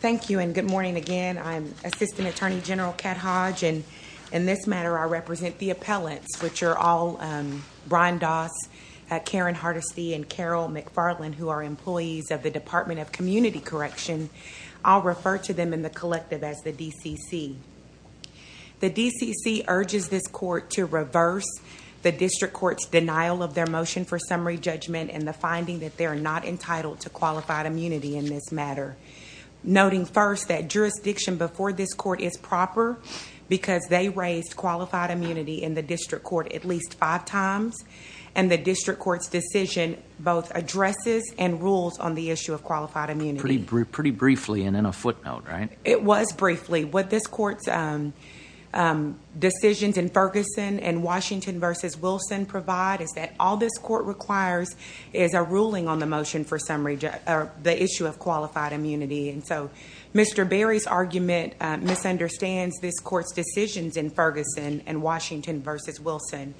Thank you and good morning again. I'm Assistant Attorney General Cat Hodge and in this matter I represent the appellants which are all Brian Doss, Karen Hardesty, and Carol McFarland who are employees of the Department of Community Correction. I'll refer to them in the collective as the DCC. The DCC urges this court to reverse the district court's denial of their motion for summary judgment and the finding that they are not entitled to qualified immunity in this matter. Noting first that jurisdiction before this court is proper because they raised qualified immunity in the district court at least five times and the district court's motion both addresses and rules on the issue of qualified immunity. Pretty briefly and in a footnote, right? It was briefly. What this court's decisions in Ferguson and Washington v. Wilson provide is that all this court requires is a ruling on the motion for summary, the issue of qualified immunity and so Mr. Berry's argument misunderstands this court's decisions in Ferguson and Washington v. Wilson.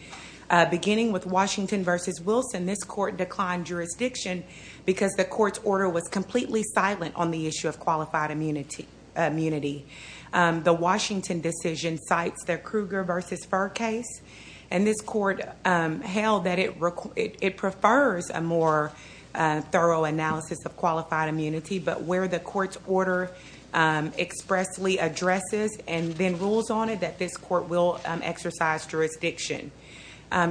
Beginning with Washington v. Wilson, this court declined jurisdiction because the court's order was completely silent on the issue of qualified immunity. The Washington decision cites their Kruger v. Furr case and this court held that it prefers a more thorough analysis of qualified immunity but where the court's order expressly addresses and then jurisdiction.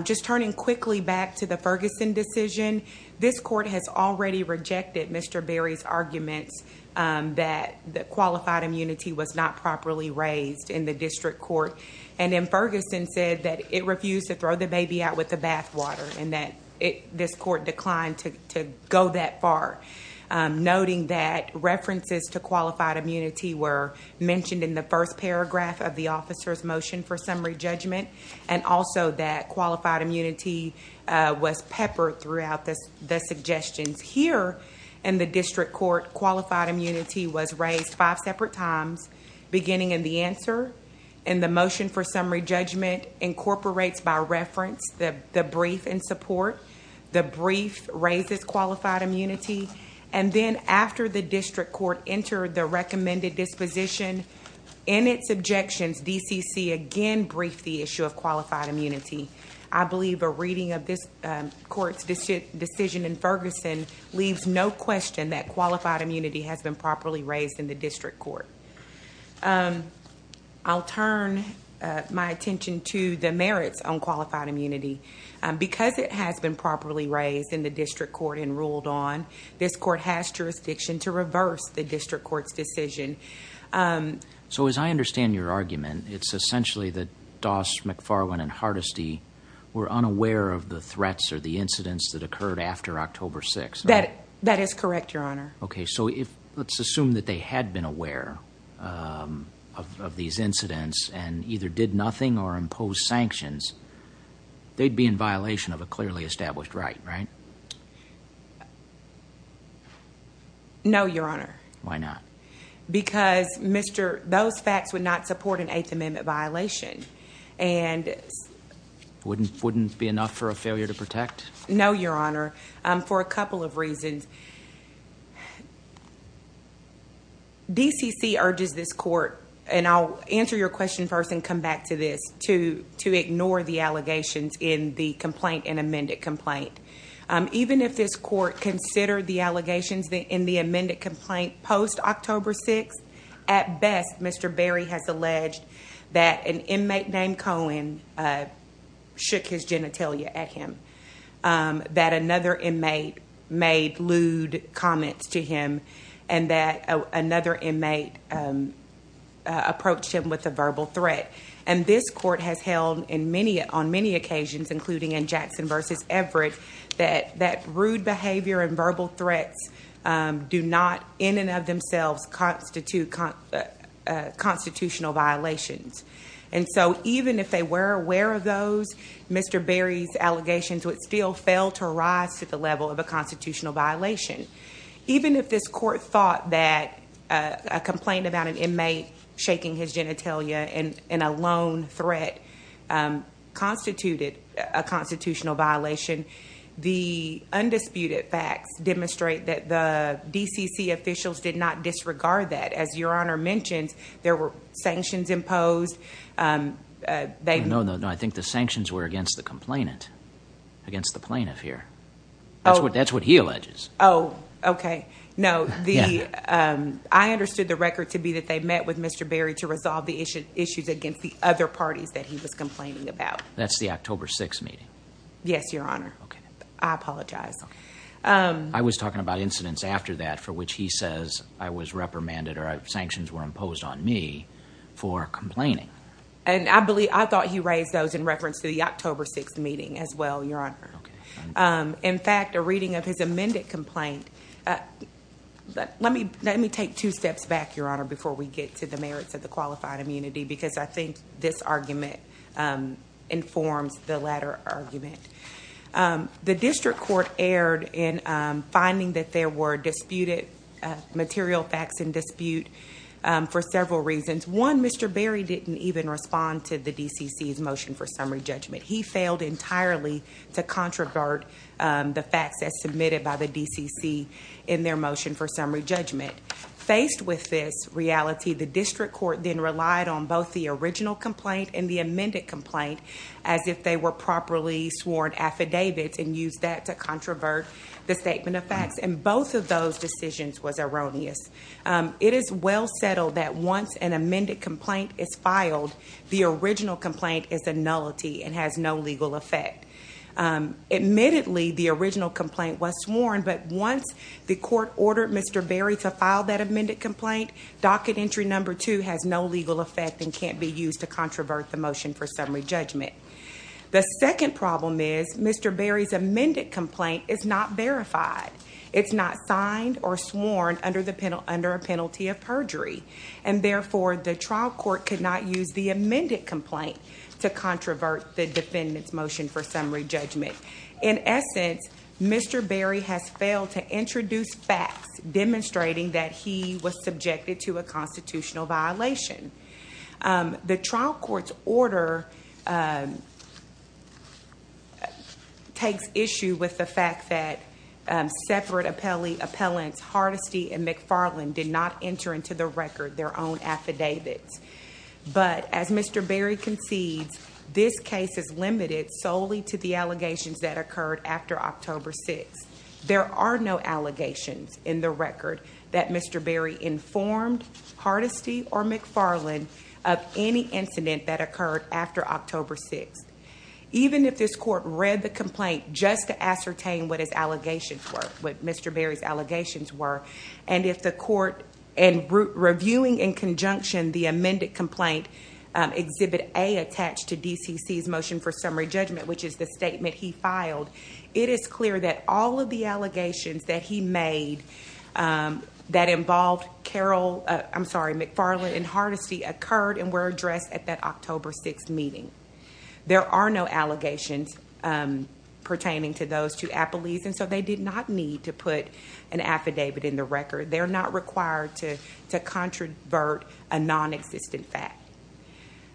Just turning quickly back to the Ferguson decision, this court has already rejected Mr. Berry's arguments that the qualified immunity was not properly raised in the district court and in Ferguson said that it refused to throw the baby out with the bathwater and that this court declined to go that far. Noting that references to qualified immunity were mentioned in the first paragraph of the officer's motion for summary judgment and also that qualified immunity was peppered throughout the suggestions. Here in the district court, qualified immunity was raised five separate times beginning in the answer and the motion for summary judgment incorporates by reference the brief and support. The brief raises qualified immunity and then after the district court entered the recommended disposition in its objections, DCC again briefed the issue of qualified immunity. I believe a reading of this court's decision in Ferguson leaves no question that qualified immunity has been properly raised in the district court. I'll turn my attention to the merits on qualified immunity. Because it has been properly raised in the district court and ruled on, this court has jurisdiction to reverse the district court's decision. As I understand your argument, it's essentially that Doss, McFarland and Hardesty were unaware of the threats or the incidents that occurred after October 6th. That is correct, your honor. Let's assume that they had been aware of these incidents and either did nothing or imposed sanctions, they'd be in violation of a clearly established right, right? No, your honor. Why not? Because those facts would not support an eighth amendment violation. Wouldn't be enough for a failure to protect? No, your honor. For a couple of reasons. DCC urges this court, and I'll answer your question first and come back to this, to ignore the allegations in the complaint, in amended complaint. Even if this court considered the allegations in the amended complaint post October 6th, at best, Mr. Berry has alleged that an inmate named Cohen shook his genitalia at him. That another inmate made loose comments to him. And that another inmate approached him with a verbal threat. And this court has held on many occasions, including in Jackson versus Everett, that rude behavior and verbal threats do not in and of themselves constitute constitutional violations. And so even if they were aware of those, Mr. Berry's allegations would still fail to rise to the level of a constitutional violation. Even if this court thought that a complaint about an inmate shaking his genitalia in a lone threat constituted a constitutional violation, the undisputed facts demonstrate that the DCC officials did not disregard that. As your honor mentioned, there were sanctions imposed. No, no, no. I was talking about incidents after that for which he says I was reprimanded or sanctions were imposed. In fact, a reading of his amended complaint. Let me take two steps back, your honor, before we get to the merits of the qualified immunity, because I think this argument informs the latter argument. The district court erred in finding that there were material facts in dispute for several reasons. One, Mr. Berry didn't even respond to the DCC's motion for summary judgment. He failed entirely to controvert the facts that's submitted by the DCC in their motion for summary judgment. Faced with this reality, the district court then relied on both the original complaint and the amended complaint as if they were properly sworn affidavits and used that to controvert the statement of facts. And both of those decisions was erroneous. It is well settled that once an amended complaint is filed, the original complaint is a nullity and has no legal effect. Admittedly, the original complaint was sworn, but once the court ordered Mr. Berry to file that amended complaint, docket entry number two has no legal effect and can't be used to controvert the motion for summary judgment. The second problem is Mr. Berry's amended complaint is not verified. It's not signed or sworn under a penalty of perjury. And therefore, the trial court could not use the amended complaint to controvert the defendant's motion for summary judgment. In essence, Mr. Berry has failed to introduce facts demonstrating that he was subjected to a constitutional violation. The trial court's order takes issue with the fact that separate appellants Hardesty and McFarland did not enter into the record their own affidavits. But as Mr. Berry concedes, this case is limited solely to the allegations that occurred after October 6th. There are no allegations in the record that Mr. Berry informed Hardesty or McFarland of any incident that occurred after October 6th. Even if this court read the complaint just to ascertain what his allegations were, what Mr. Berry's allegations were, and if the court and reviewing in conjunction the amended complaint exhibit A attached to DCC's motion for summary judgment, which is the statement he filed, it is clear that all of the allegations that he made that involved McFarland and Hardesty occurred and were addressed at that October 6th meeting. There are no allegations pertaining to those two appellees, and so they did not need to put an affidavit in the record. They're not required to controvert a non-existent fact.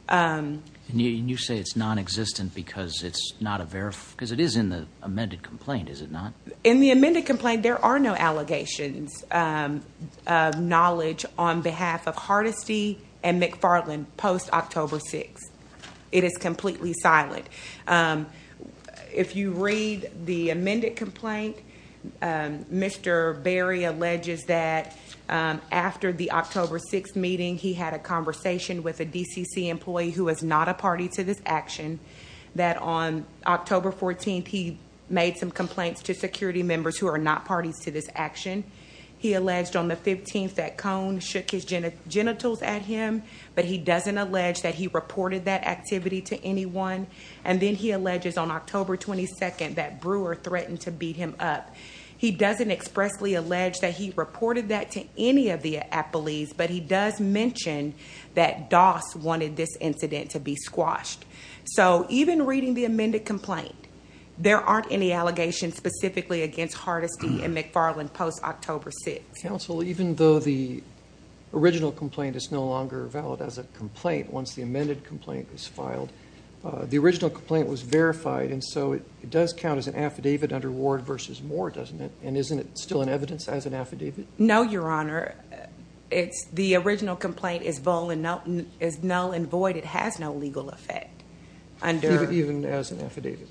And you say it's non-existent because it's it is in the amended complaint, is it not? In the amended complaint, there are no allegations of knowledge on behalf of Hardesty and McFarland post-October 6th. It is completely silent. If you read the amended complaint, Mr. Berry alleges that after the October 6th meeting, he had a conversation with a DCC employee who was not a party to this action, that on October 14th, he made some complaints to security members who are not parties to this action. He alleged on the 15th that Cone shook his genitals at him, but he doesn't allege that he reported that activity to anyone. And then he alleges on October 22nd that Brewer threatened to beat him up. He doesn't expressly allege that he reported that to any of the appellees, but he does mention that Doss wanted this incident to be squashed. So even reading the amended complaint, there aren't any allegations specifically against Hardesty and McFarland post-October 6th. Counsel, even though the original complaint is no longer valid as a complaint once the amended complaint was filed, the original complaint was verified and so it does count as an affidavit under Ward v. Moore, doesn't it? And isn't it still an evidence as affidavit? No, Your Honor. It's the original complaint is null and void. It has no legal effect. Even as an affidavit?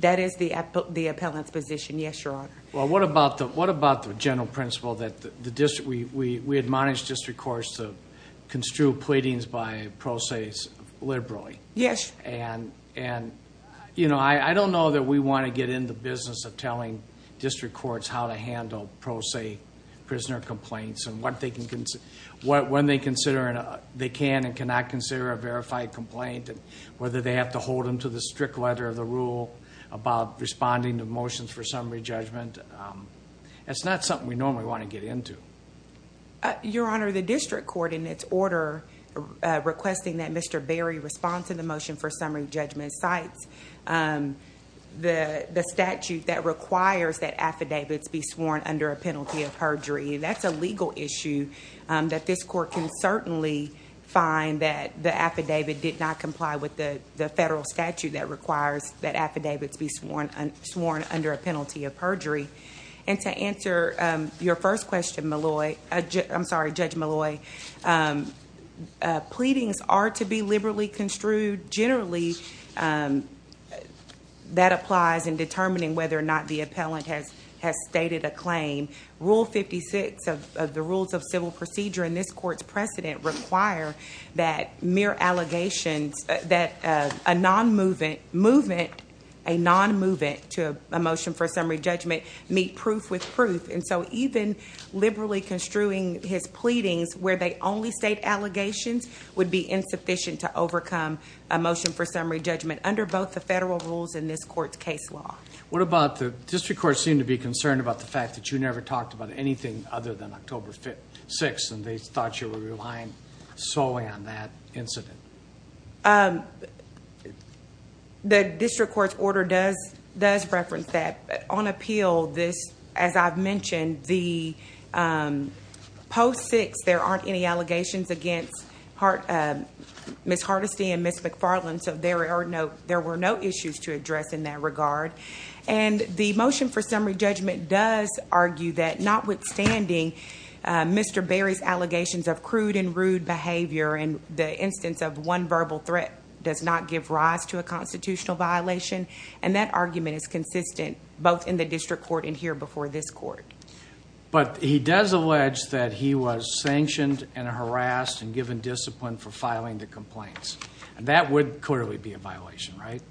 That is the appellant's position, yes, Your Honor. Well, what about the general principle that we admonish district courts to construe pleadings by pro ses liberally? Yes. And I don't know that we want to get in the business of telling district courts how to handle pro se prisoner complaints and when they can and cannot consider a verified complaint and whether they have to hold them to the strict letter of the rule about responding to motions for summary judgment. It's not something we normally want to get into. Your Honor, the district court in its order requesting that Mr. Berry respond to motion for summary judgment cites the statute that requires that affidavits be sworn under a penalty of perjury. And that's a legal issue that this court can certainly find that the affidavit did not comply with the federal statute that requires that affidavits be sworn under a penalty of perjury. And to answer your first question, Molloy, I'm sorry, Judge Molloy, pleadings are to be liberally construed generally. That applies in determining whether or not the appellant has has stated a claim. Rule 56 of the rules of civil procedure in this court's precedent require that mere allegations that a non-movement movement, a non-movement to a motion for summary judgment meet proof with proof. And so even liberally construing his pleadings where they only state allegations would be insufficient to overcome a motion for summary judgment under both the federal rules in this court's case law. What about the district court seemed to be concerned about the fact that you never talked about anything other than October 6th and they thought you were relying solely on that incident. The district court's order does reference that. On appeal, as I've against Ms. Hardesty and Ms. McFarland, so there were no issues to address in that regard. And the motion for summary judgment does argue that notwithstanding Mr. Berry's allegations of crude and rude behavior in the instance of one verbal threat does not give rise to a constitutional violation. And that argument is consistent both in the district court and here before this court. But he does allege that he was sanctioned and harassed and given discipline for filing the complaints and that would clearly be a violation, right?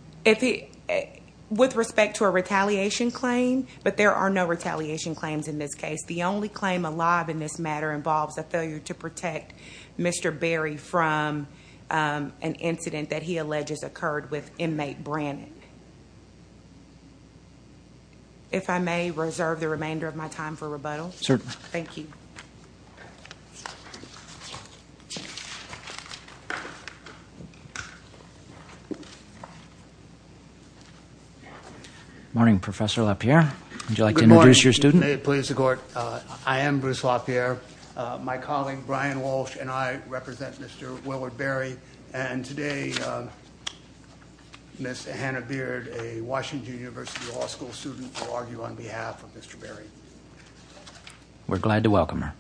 With respect to a retaliation claim, but there are no retaliation claims in this case. The only claim alive in this matter involves a failure to protect Mr. Berry from an incident that he alleges occurred with inmate Brannan. If I may reserve the remainder of my time for rebuttal. Certainly. Thank you. Morning, Professor LaPierre. Would you like to introduce your student? Good morning, please, the court. I am Bruce LaPierre. My colleague Brian Walsh and I represent Mr. Willard Berry. And today, Ms. Hannah Beard, a Washington University Law School student, will argue on behalf of Mr. Berry. We're glad to welcome her.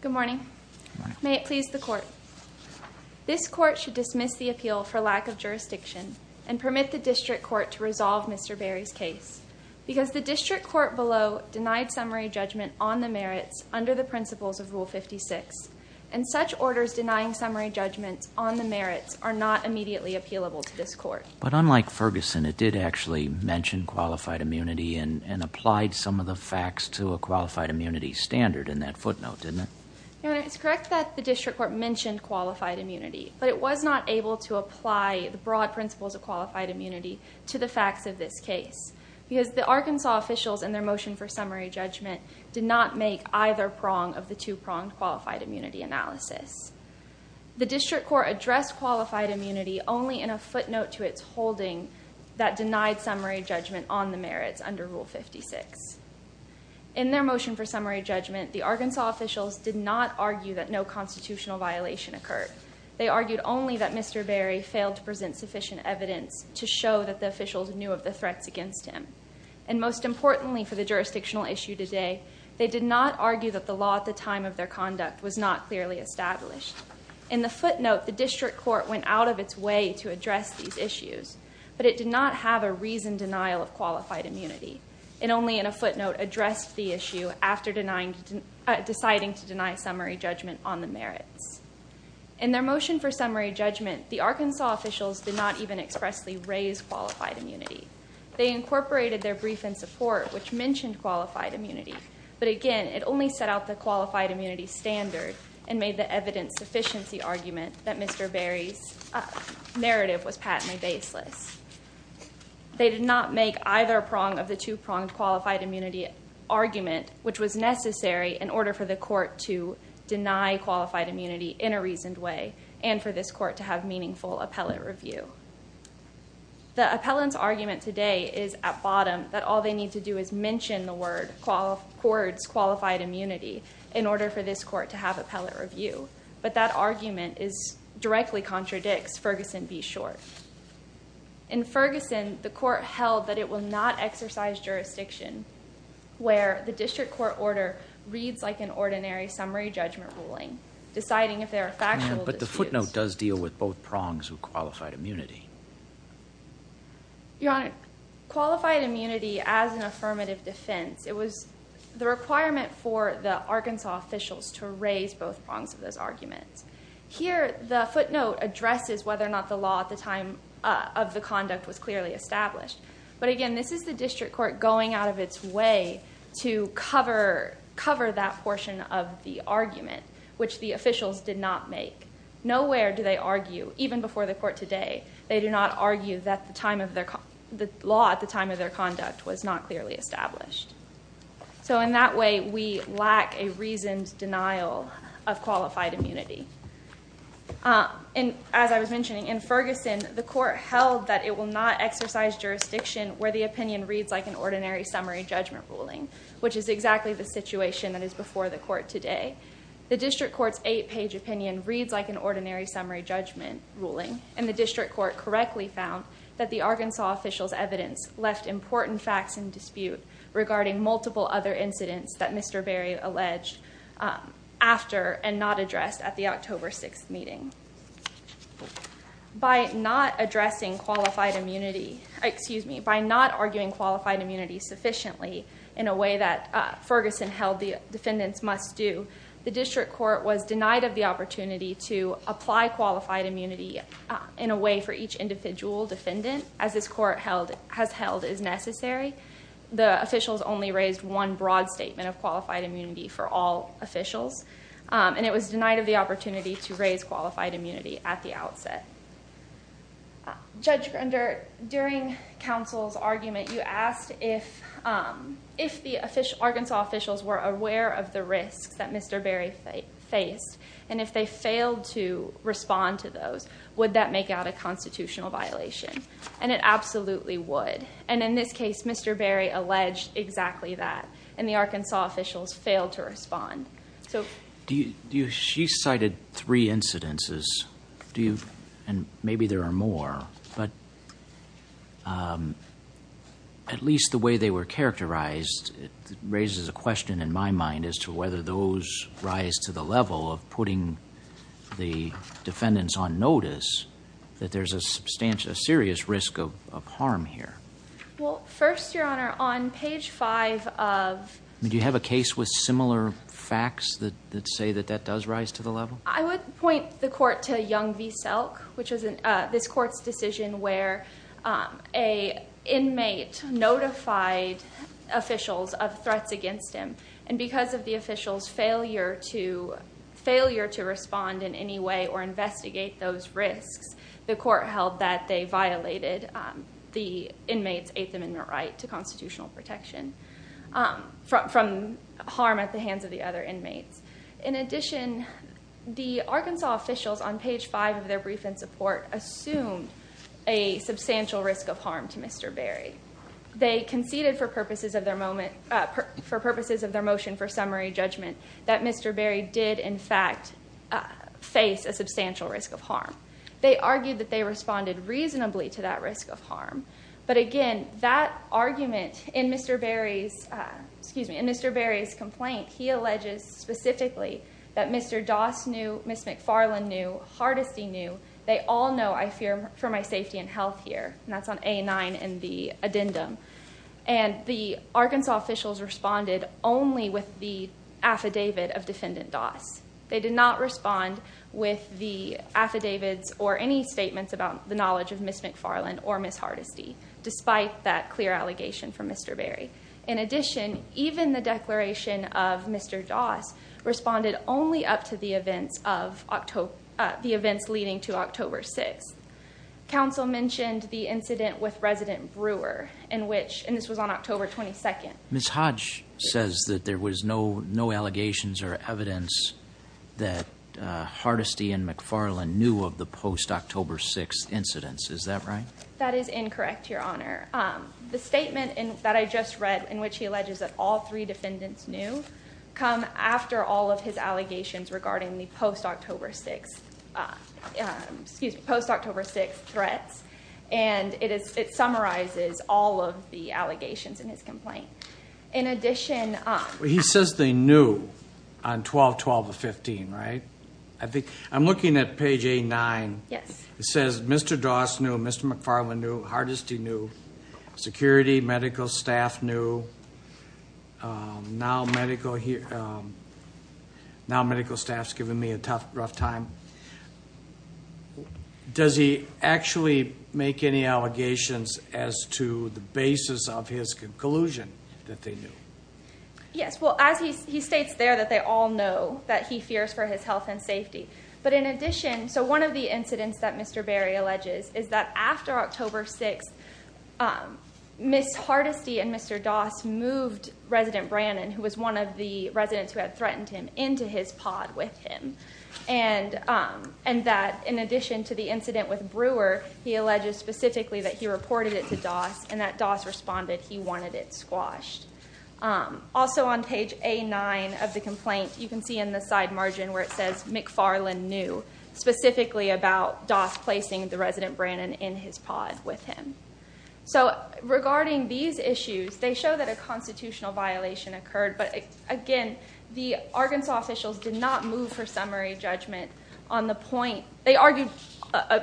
Good morning. May it please the court. This court should dismiss the appeal for lack of denied summary judgment on the merits under the principles of Rule 56. And such orders denying summary judgments on the merits are not immediately appealable to this court. But unlike Ferguson, it did actually mention qualified immunity and applied some of the facts to a qualified immunity standard in that footnote, didn't it? It's correct that the district court mentioned qualified immunity, but it was not able to apply the broad principles of qualified immunity to the facts of this case. Because the Arkansas officials in their motion for summary judgment did not make either prong of the two-pronged qualified immunity analysis. The district court addressed qualified immunity only in a footnote to its holding that denied summary judgment on the merits under Rule 56. In their motion for summary judgment, the Arkansas officials did not argue that no constitutional violation occurred. They argued only that Mr. Berry failed to present sufficient evidence to show that the officials knew of the threats against him. And most importantly for the jurisdictional issue today, they did not argue that the law at the time of their conduct was not clearly established. In the footnote, the district court went out of its way to address these issues, but it did not have a reasoned denial of qualified immunity. And only in a footnote addressed the issue after deciding to deny summary judgment on the merits. In their motion for summary judgment, the Arkansas officials did not even expressly raise qualified immunity. They incorporated their brief in support, which mentioned qualified immunity. But again, it only set out the qualified immunity standard and made the evidence sufficiency argument that Mr. Berry's narrative was patently baseless. They did not make either prong of the qualified immunity argument, which was necessary in order for the court to deny qualified immunity in a reasoned way and for this court to have meaningful appellate review. The appellant's argument today is at bottom, that all they need to do is mention the word qualified immunity in order for this court to have appellate review. But that argument directly contradicts Ferguson v. Short. In Ferguson, the court held that it will not exercise jurisdiction where the district court order reads like an ordinary summary judgment ruling, deciding if there are factual disputes. But the footnote does deal with both prongs of qualified immunity. Your Honor, qualified immunity as an affirmative defense, it was the requirement for the Arkansas officials to raise both prongs of those arguments. Here, the footnote addresses whether or not the law at the time of the conduct was clearly established. But again, this is the district court going out of its way to cover that portion of the argument, which the officials did not make. Nowhere do they argue, even before the court today, they do not argue that the law at the time of their conduct was not clearly established. So in that way, we lack a reasoned denial of qualified immunity. And as I was mentioning, in Ferguson, the court held that it will not exercise jurisdiction where the opinion reads like an ordinary summary judgment ruling, which is exactly the situation that is before the court today. The district court's eight-page opinion reads like an ordinary summary judgment ruling, and the district court correctly found that the Arkansas officials' evidence left important facts in dispute regarding multiple other incidents that Mr. Berry alleged after and not addressed at the October 6th meeting. By not addressing qualified immunity, excuse me, by not arguing qualified immunity sufficiently in a way that Ferguson held the defendants must do, the district court was denied of the opportunity to apply qualified immunity in a way for each individual defendant, as this court has held is necessary. The officials only raised one broad statement of qualified immunity for all officials, and it was denied of the opportunity to raise qualified immunity at the outset. Judge Grundert, during counsel's argument, you asked if the Arkansas officials were aware of the risks that Mr. Berry faced, and if they were, would that make out a constitutional violation? And it absolutely would. And in this case, Mr. Berry alleged exactly that, and the Arkansas officials failed to respond. She cited three incidences, and maybe there are more, but at least the way they were characterized raises a question in my mind as to whether those rise to the level of putting the defendants on notice that there's a substantial, serious risk of harm here. Well, first, your honor, on page five of... Do you have a case with similar facts that say that that does rise to the level? I would point the court to Young v. Selk, which is this court's decision where an inmate notified officials of threats against him, and because of the failure to respond in any way or investigate those risks, the court held that they violated the inmates' eighth amendment right to constitutional protection from harm at the hands of the other inmates. In addition, the Arkansas officials on page five of their brief and support assumed a substantial risk of harm to Mr. Berry. They conceded for purposes of their motion for summary judgment that Mr. Berry did, in fact, face a substantial risk of harm. They argued that they responded reasonably to that risk of harm, but again, that argument in Mr. Berry's complaint, he alleges specifically that Mr. Doss knew, Ms. McFarland knew, Hardesty knew, they all know I fear for my safety and health here, and that's on A-9 in the addendum, and the Arkansas officials responded only with the affidavit of defendant Doss. They did not respond with the affidavits or any statements about the knowledge of Ms. McFarland or Ms. Hardesty, despite that clear allegation from Mr. Berry. In addition, even the declaration of Mr. Doss responded only up to the events of October, the events leading to October 6th. Council mentioned the incident with Resident Brewer in which, and this was on October 22nd. Ms. Hodge says that there was no no allegations or evidence that Hardesty and McFarland knew of the post-October 6th incidents. Is that right? That is incorrect, Your Honor. The statement that I just read, in which he alleges that all three defendants knew, come after all of his and it summarizes all of the allegations in his complaint. In addition, he says they knew on 12-12-15, right? I think I'm looking at page A-9. Yes. It says Mr. Doss knew, Mr. McFarland knew, Hardesty knew, security, medical staff knew. Now medical staff's giving me a tough, rough time. Does he actually make any allegations as to the basis of his conclusion that they knew? Yes. Well, as he states there that they all know that he fears for his health and safety. But in addition, so one of the incidents that Mr. Berry alleges is that after October 6th, Ms. Hardesty and Mr. Doss moved Resident Brannon, who was one of the residents who had threatened him, into his pod with him. And that in addition to the incident with Brewer, he alleges specifically that he reported it to Doss and that Doss responded he wanted it squashed. Also on page A-9 of the complaint, you can see in the side margin where it says McFarland knew, specifically about Doss placing the Resident Brannon in his pod with him. So regarding these the Arkansas officials did not move for summary judgment on the point, they argued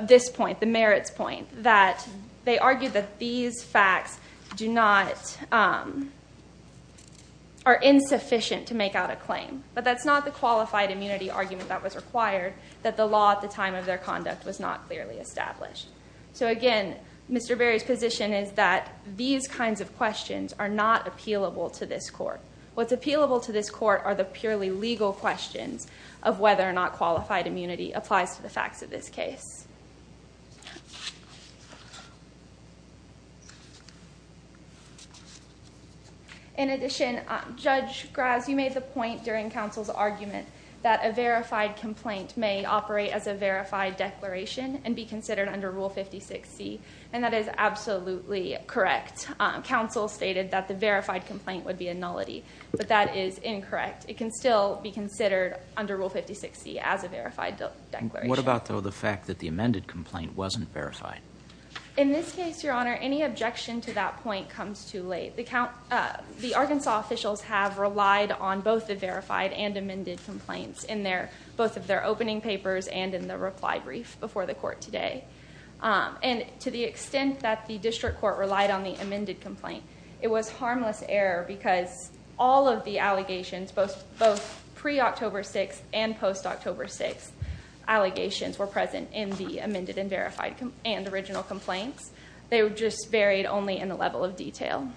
this point, the merits point, that they argued that these facts do not, are insufficient to make out a claim. But that's not the qualified immunity argument that was required, that the law at the time of their conduct was not clearly established. So again, Mr. Berry's position is that these kinds of questions are not appealable to this court. What's appealable to this court are the purely legal questions of whether or not qualified immunity applies to the facts of this case. In addition, Judge Graz, you made the point during counsel's argument that a verified complaint may operate as a verified declaration and be considered under Rule 56C, and that is correct. Counsel stated that the verified complaint would be a nullity, but that is incorrect. It can still be considered under Rule 56C as a verified declaration. What about the fact that the amended complaint wasn't verified? In this case, your honor, any objection to that point comes too late. The Arkansas officials have relied on both the verified and amended complaints in both of their opening papers and in the reply brief before the court today. And to the extent that the district court relied on the amended complaint, it was harmless error because all of the allegations, both pre-October 6th and post-October 6th, allegations were present in the amended and verified and original complaints. They were just varied only in the level of detail.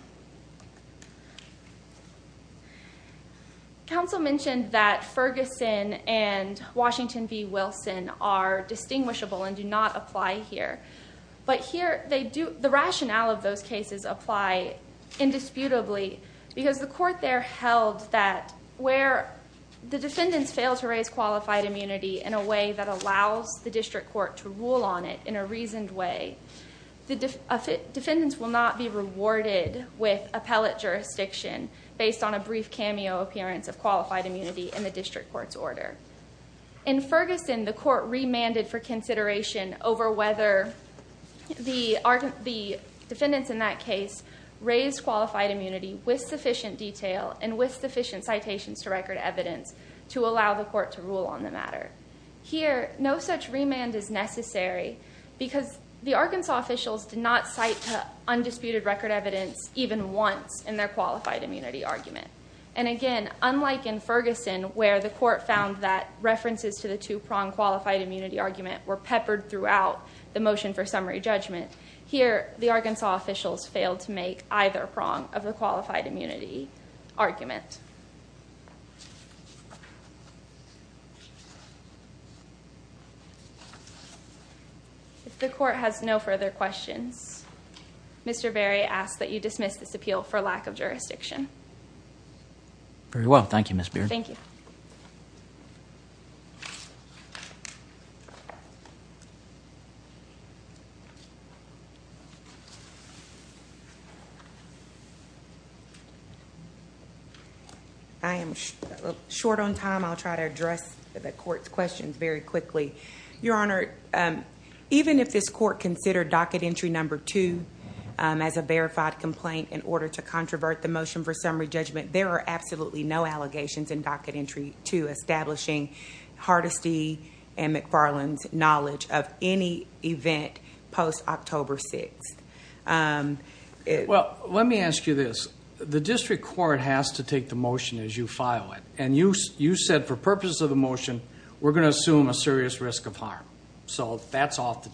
Counsel mentioned that Ferguson and Washington v. Wilson are distinguishable and do not apply here, but the rationale of those cases apply indisputably because the court there held that where the defendants fail to raise qualified immunity in a way that allows the district court to rule on it in a reasoned way, the defendants will not be rewarded with appellate jurisdiction based on a brief cameo appearance of qualified immunity. In Ferguson, the court remanded for consideration over whether the defendants in that case raised qualified immunity with sufficient detail and with sufficient citations to record evidence to allow the court to rule on the matter. Here, no such remand is necessary because the Arkansas officials did not cite undisputed record evidence even once in their qualified immunity argument. And again, unlike in Ferguson where the court found that references to the two-prong qualified immunity argument were peppered throughout the motion for summary judgment, here the Arkansas officials failed to make either prong of the qualified immunity argument. If the court has no further questions, Mr. Berry asks that you dismiss this appeal for lack of comment. Very well. Thank you, Ms. Beard. Thank you. I am short on time. I'll try to address the court's questions very quickly. Your honor, even if this court considered docket entry number two as a verified complaint in order to controvert the motion for summary judgment, there are absolutely no allegations in docket entry two establishing Hardesty and McFarland's knowledge of any event post-October 6th. Well, let me ask you this. The district court has to take the motion as you file it. And you said for purposes of the motion, we're going to assume a serious risk of harm. So that's off the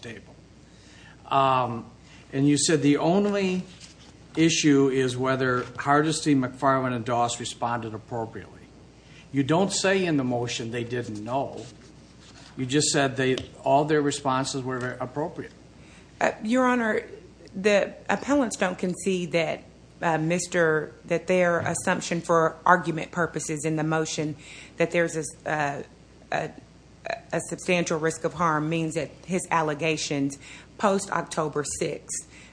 whether Hardesty, McFarland, and Doss responded appropriately. You don't say in the motion they didn't know. You just said all their responses were appropriate. Your honor, the appellants don't concede that their assumption for argument purposes in the motion that there's a substantial risk of harm means that his allegations post-October 6th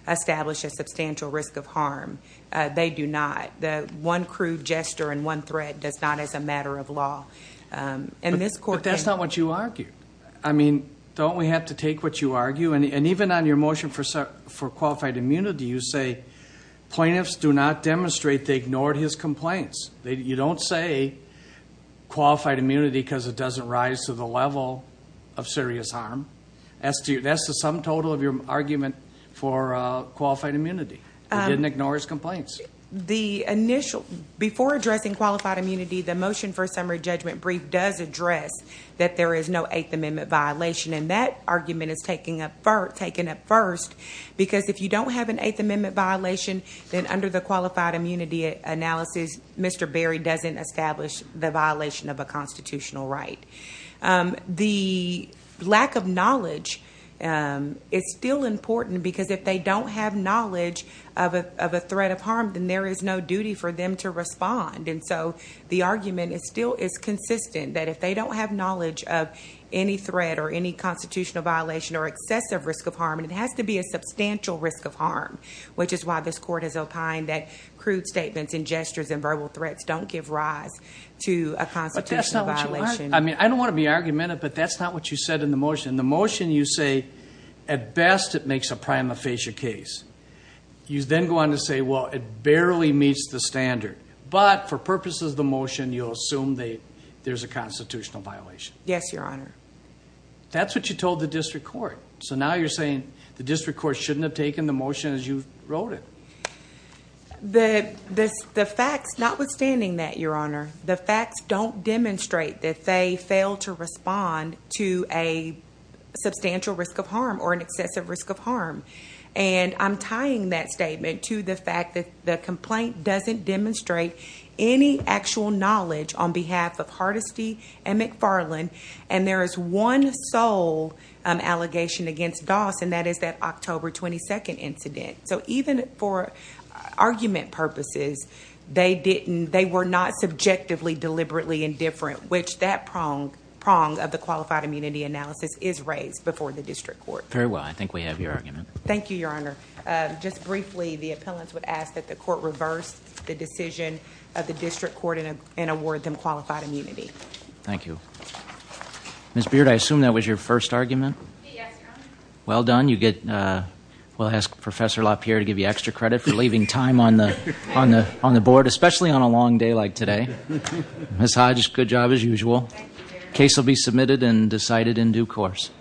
established a substantial risk of harm. They do not. The one crude gesture and one threat does not as a matter of law. But that's not what you argued. I mean, don't we have to take what you argue? And even on your motion for qualified immunity, you say plaintiffs do not demonstrate they ignored his complaints. You don't say qualified immunity because it doesn't rise to the level of serious harm. That's the sum total of your argument for qualified immunity. They didn't ignore his complaints. Before addressing qualified immunity, the motion for a summary judgment brief does address that there is no Eighth Amendment violation. And that argument is taken up first because if you don't have an Eighth Amendment violation, then under the qualified immunity analysis, Mr. Berry doesn't establish the violation of a constitutional right. The lack of knowledge is still important because if they don't have knowledge of a threat of harm, then there is no duty for them to respond. And so the argument is still is consistent that if they don't have knowledge of any threat or any constitutional violation or excessive risk of harm, and it has to be a substantial risk of harm, which is why this court has opined that threats don't give rise to a constitutional violation. I mean, I don't want to be argumentative, but that's not what you said in the motion. The motion you say, at best, it makes a prima facie case. You then go on to say, well, it barely meets the standard. But for purposes of the motion, you'll assume that there's a constitutional violation. Yes, Your Honor. That's what you told the district court. So now you're saying the district court shouldn't have motion as you wrote it. The facts, notwithstanding that, Your Honor, the facts don't demonstrate that they fail to respond to a substantial risk of harm or an excessive risk of harm. And I'm tying that statement to the fact that the complaint doesn't demonstrate any actual knowledge on behalf of Hardesty and McFarland. And there is one sole allegation against Doss, and that is that October 22nd incident. So even for argument purposes, they were not subjectively, deliberately indifferent, which that prong of the qualified immunity analysis is raised before the district court. Very well. I think we have your argument. Thank you, Your Honor. Just briefly, the appellants would ask that the court reverse the decision of the district court and award them qualified immunity. Thank you. Ms. Beard, I assume that was your first argument. Yes, Your Honor. Well done. We'll ask Professor LaPierre to give you extra credit for leaving time on the board, especially on a long day like today. Ms. Hodge, good job as usual. Thank you, Your Honor. Case will be submitted and decided in due course.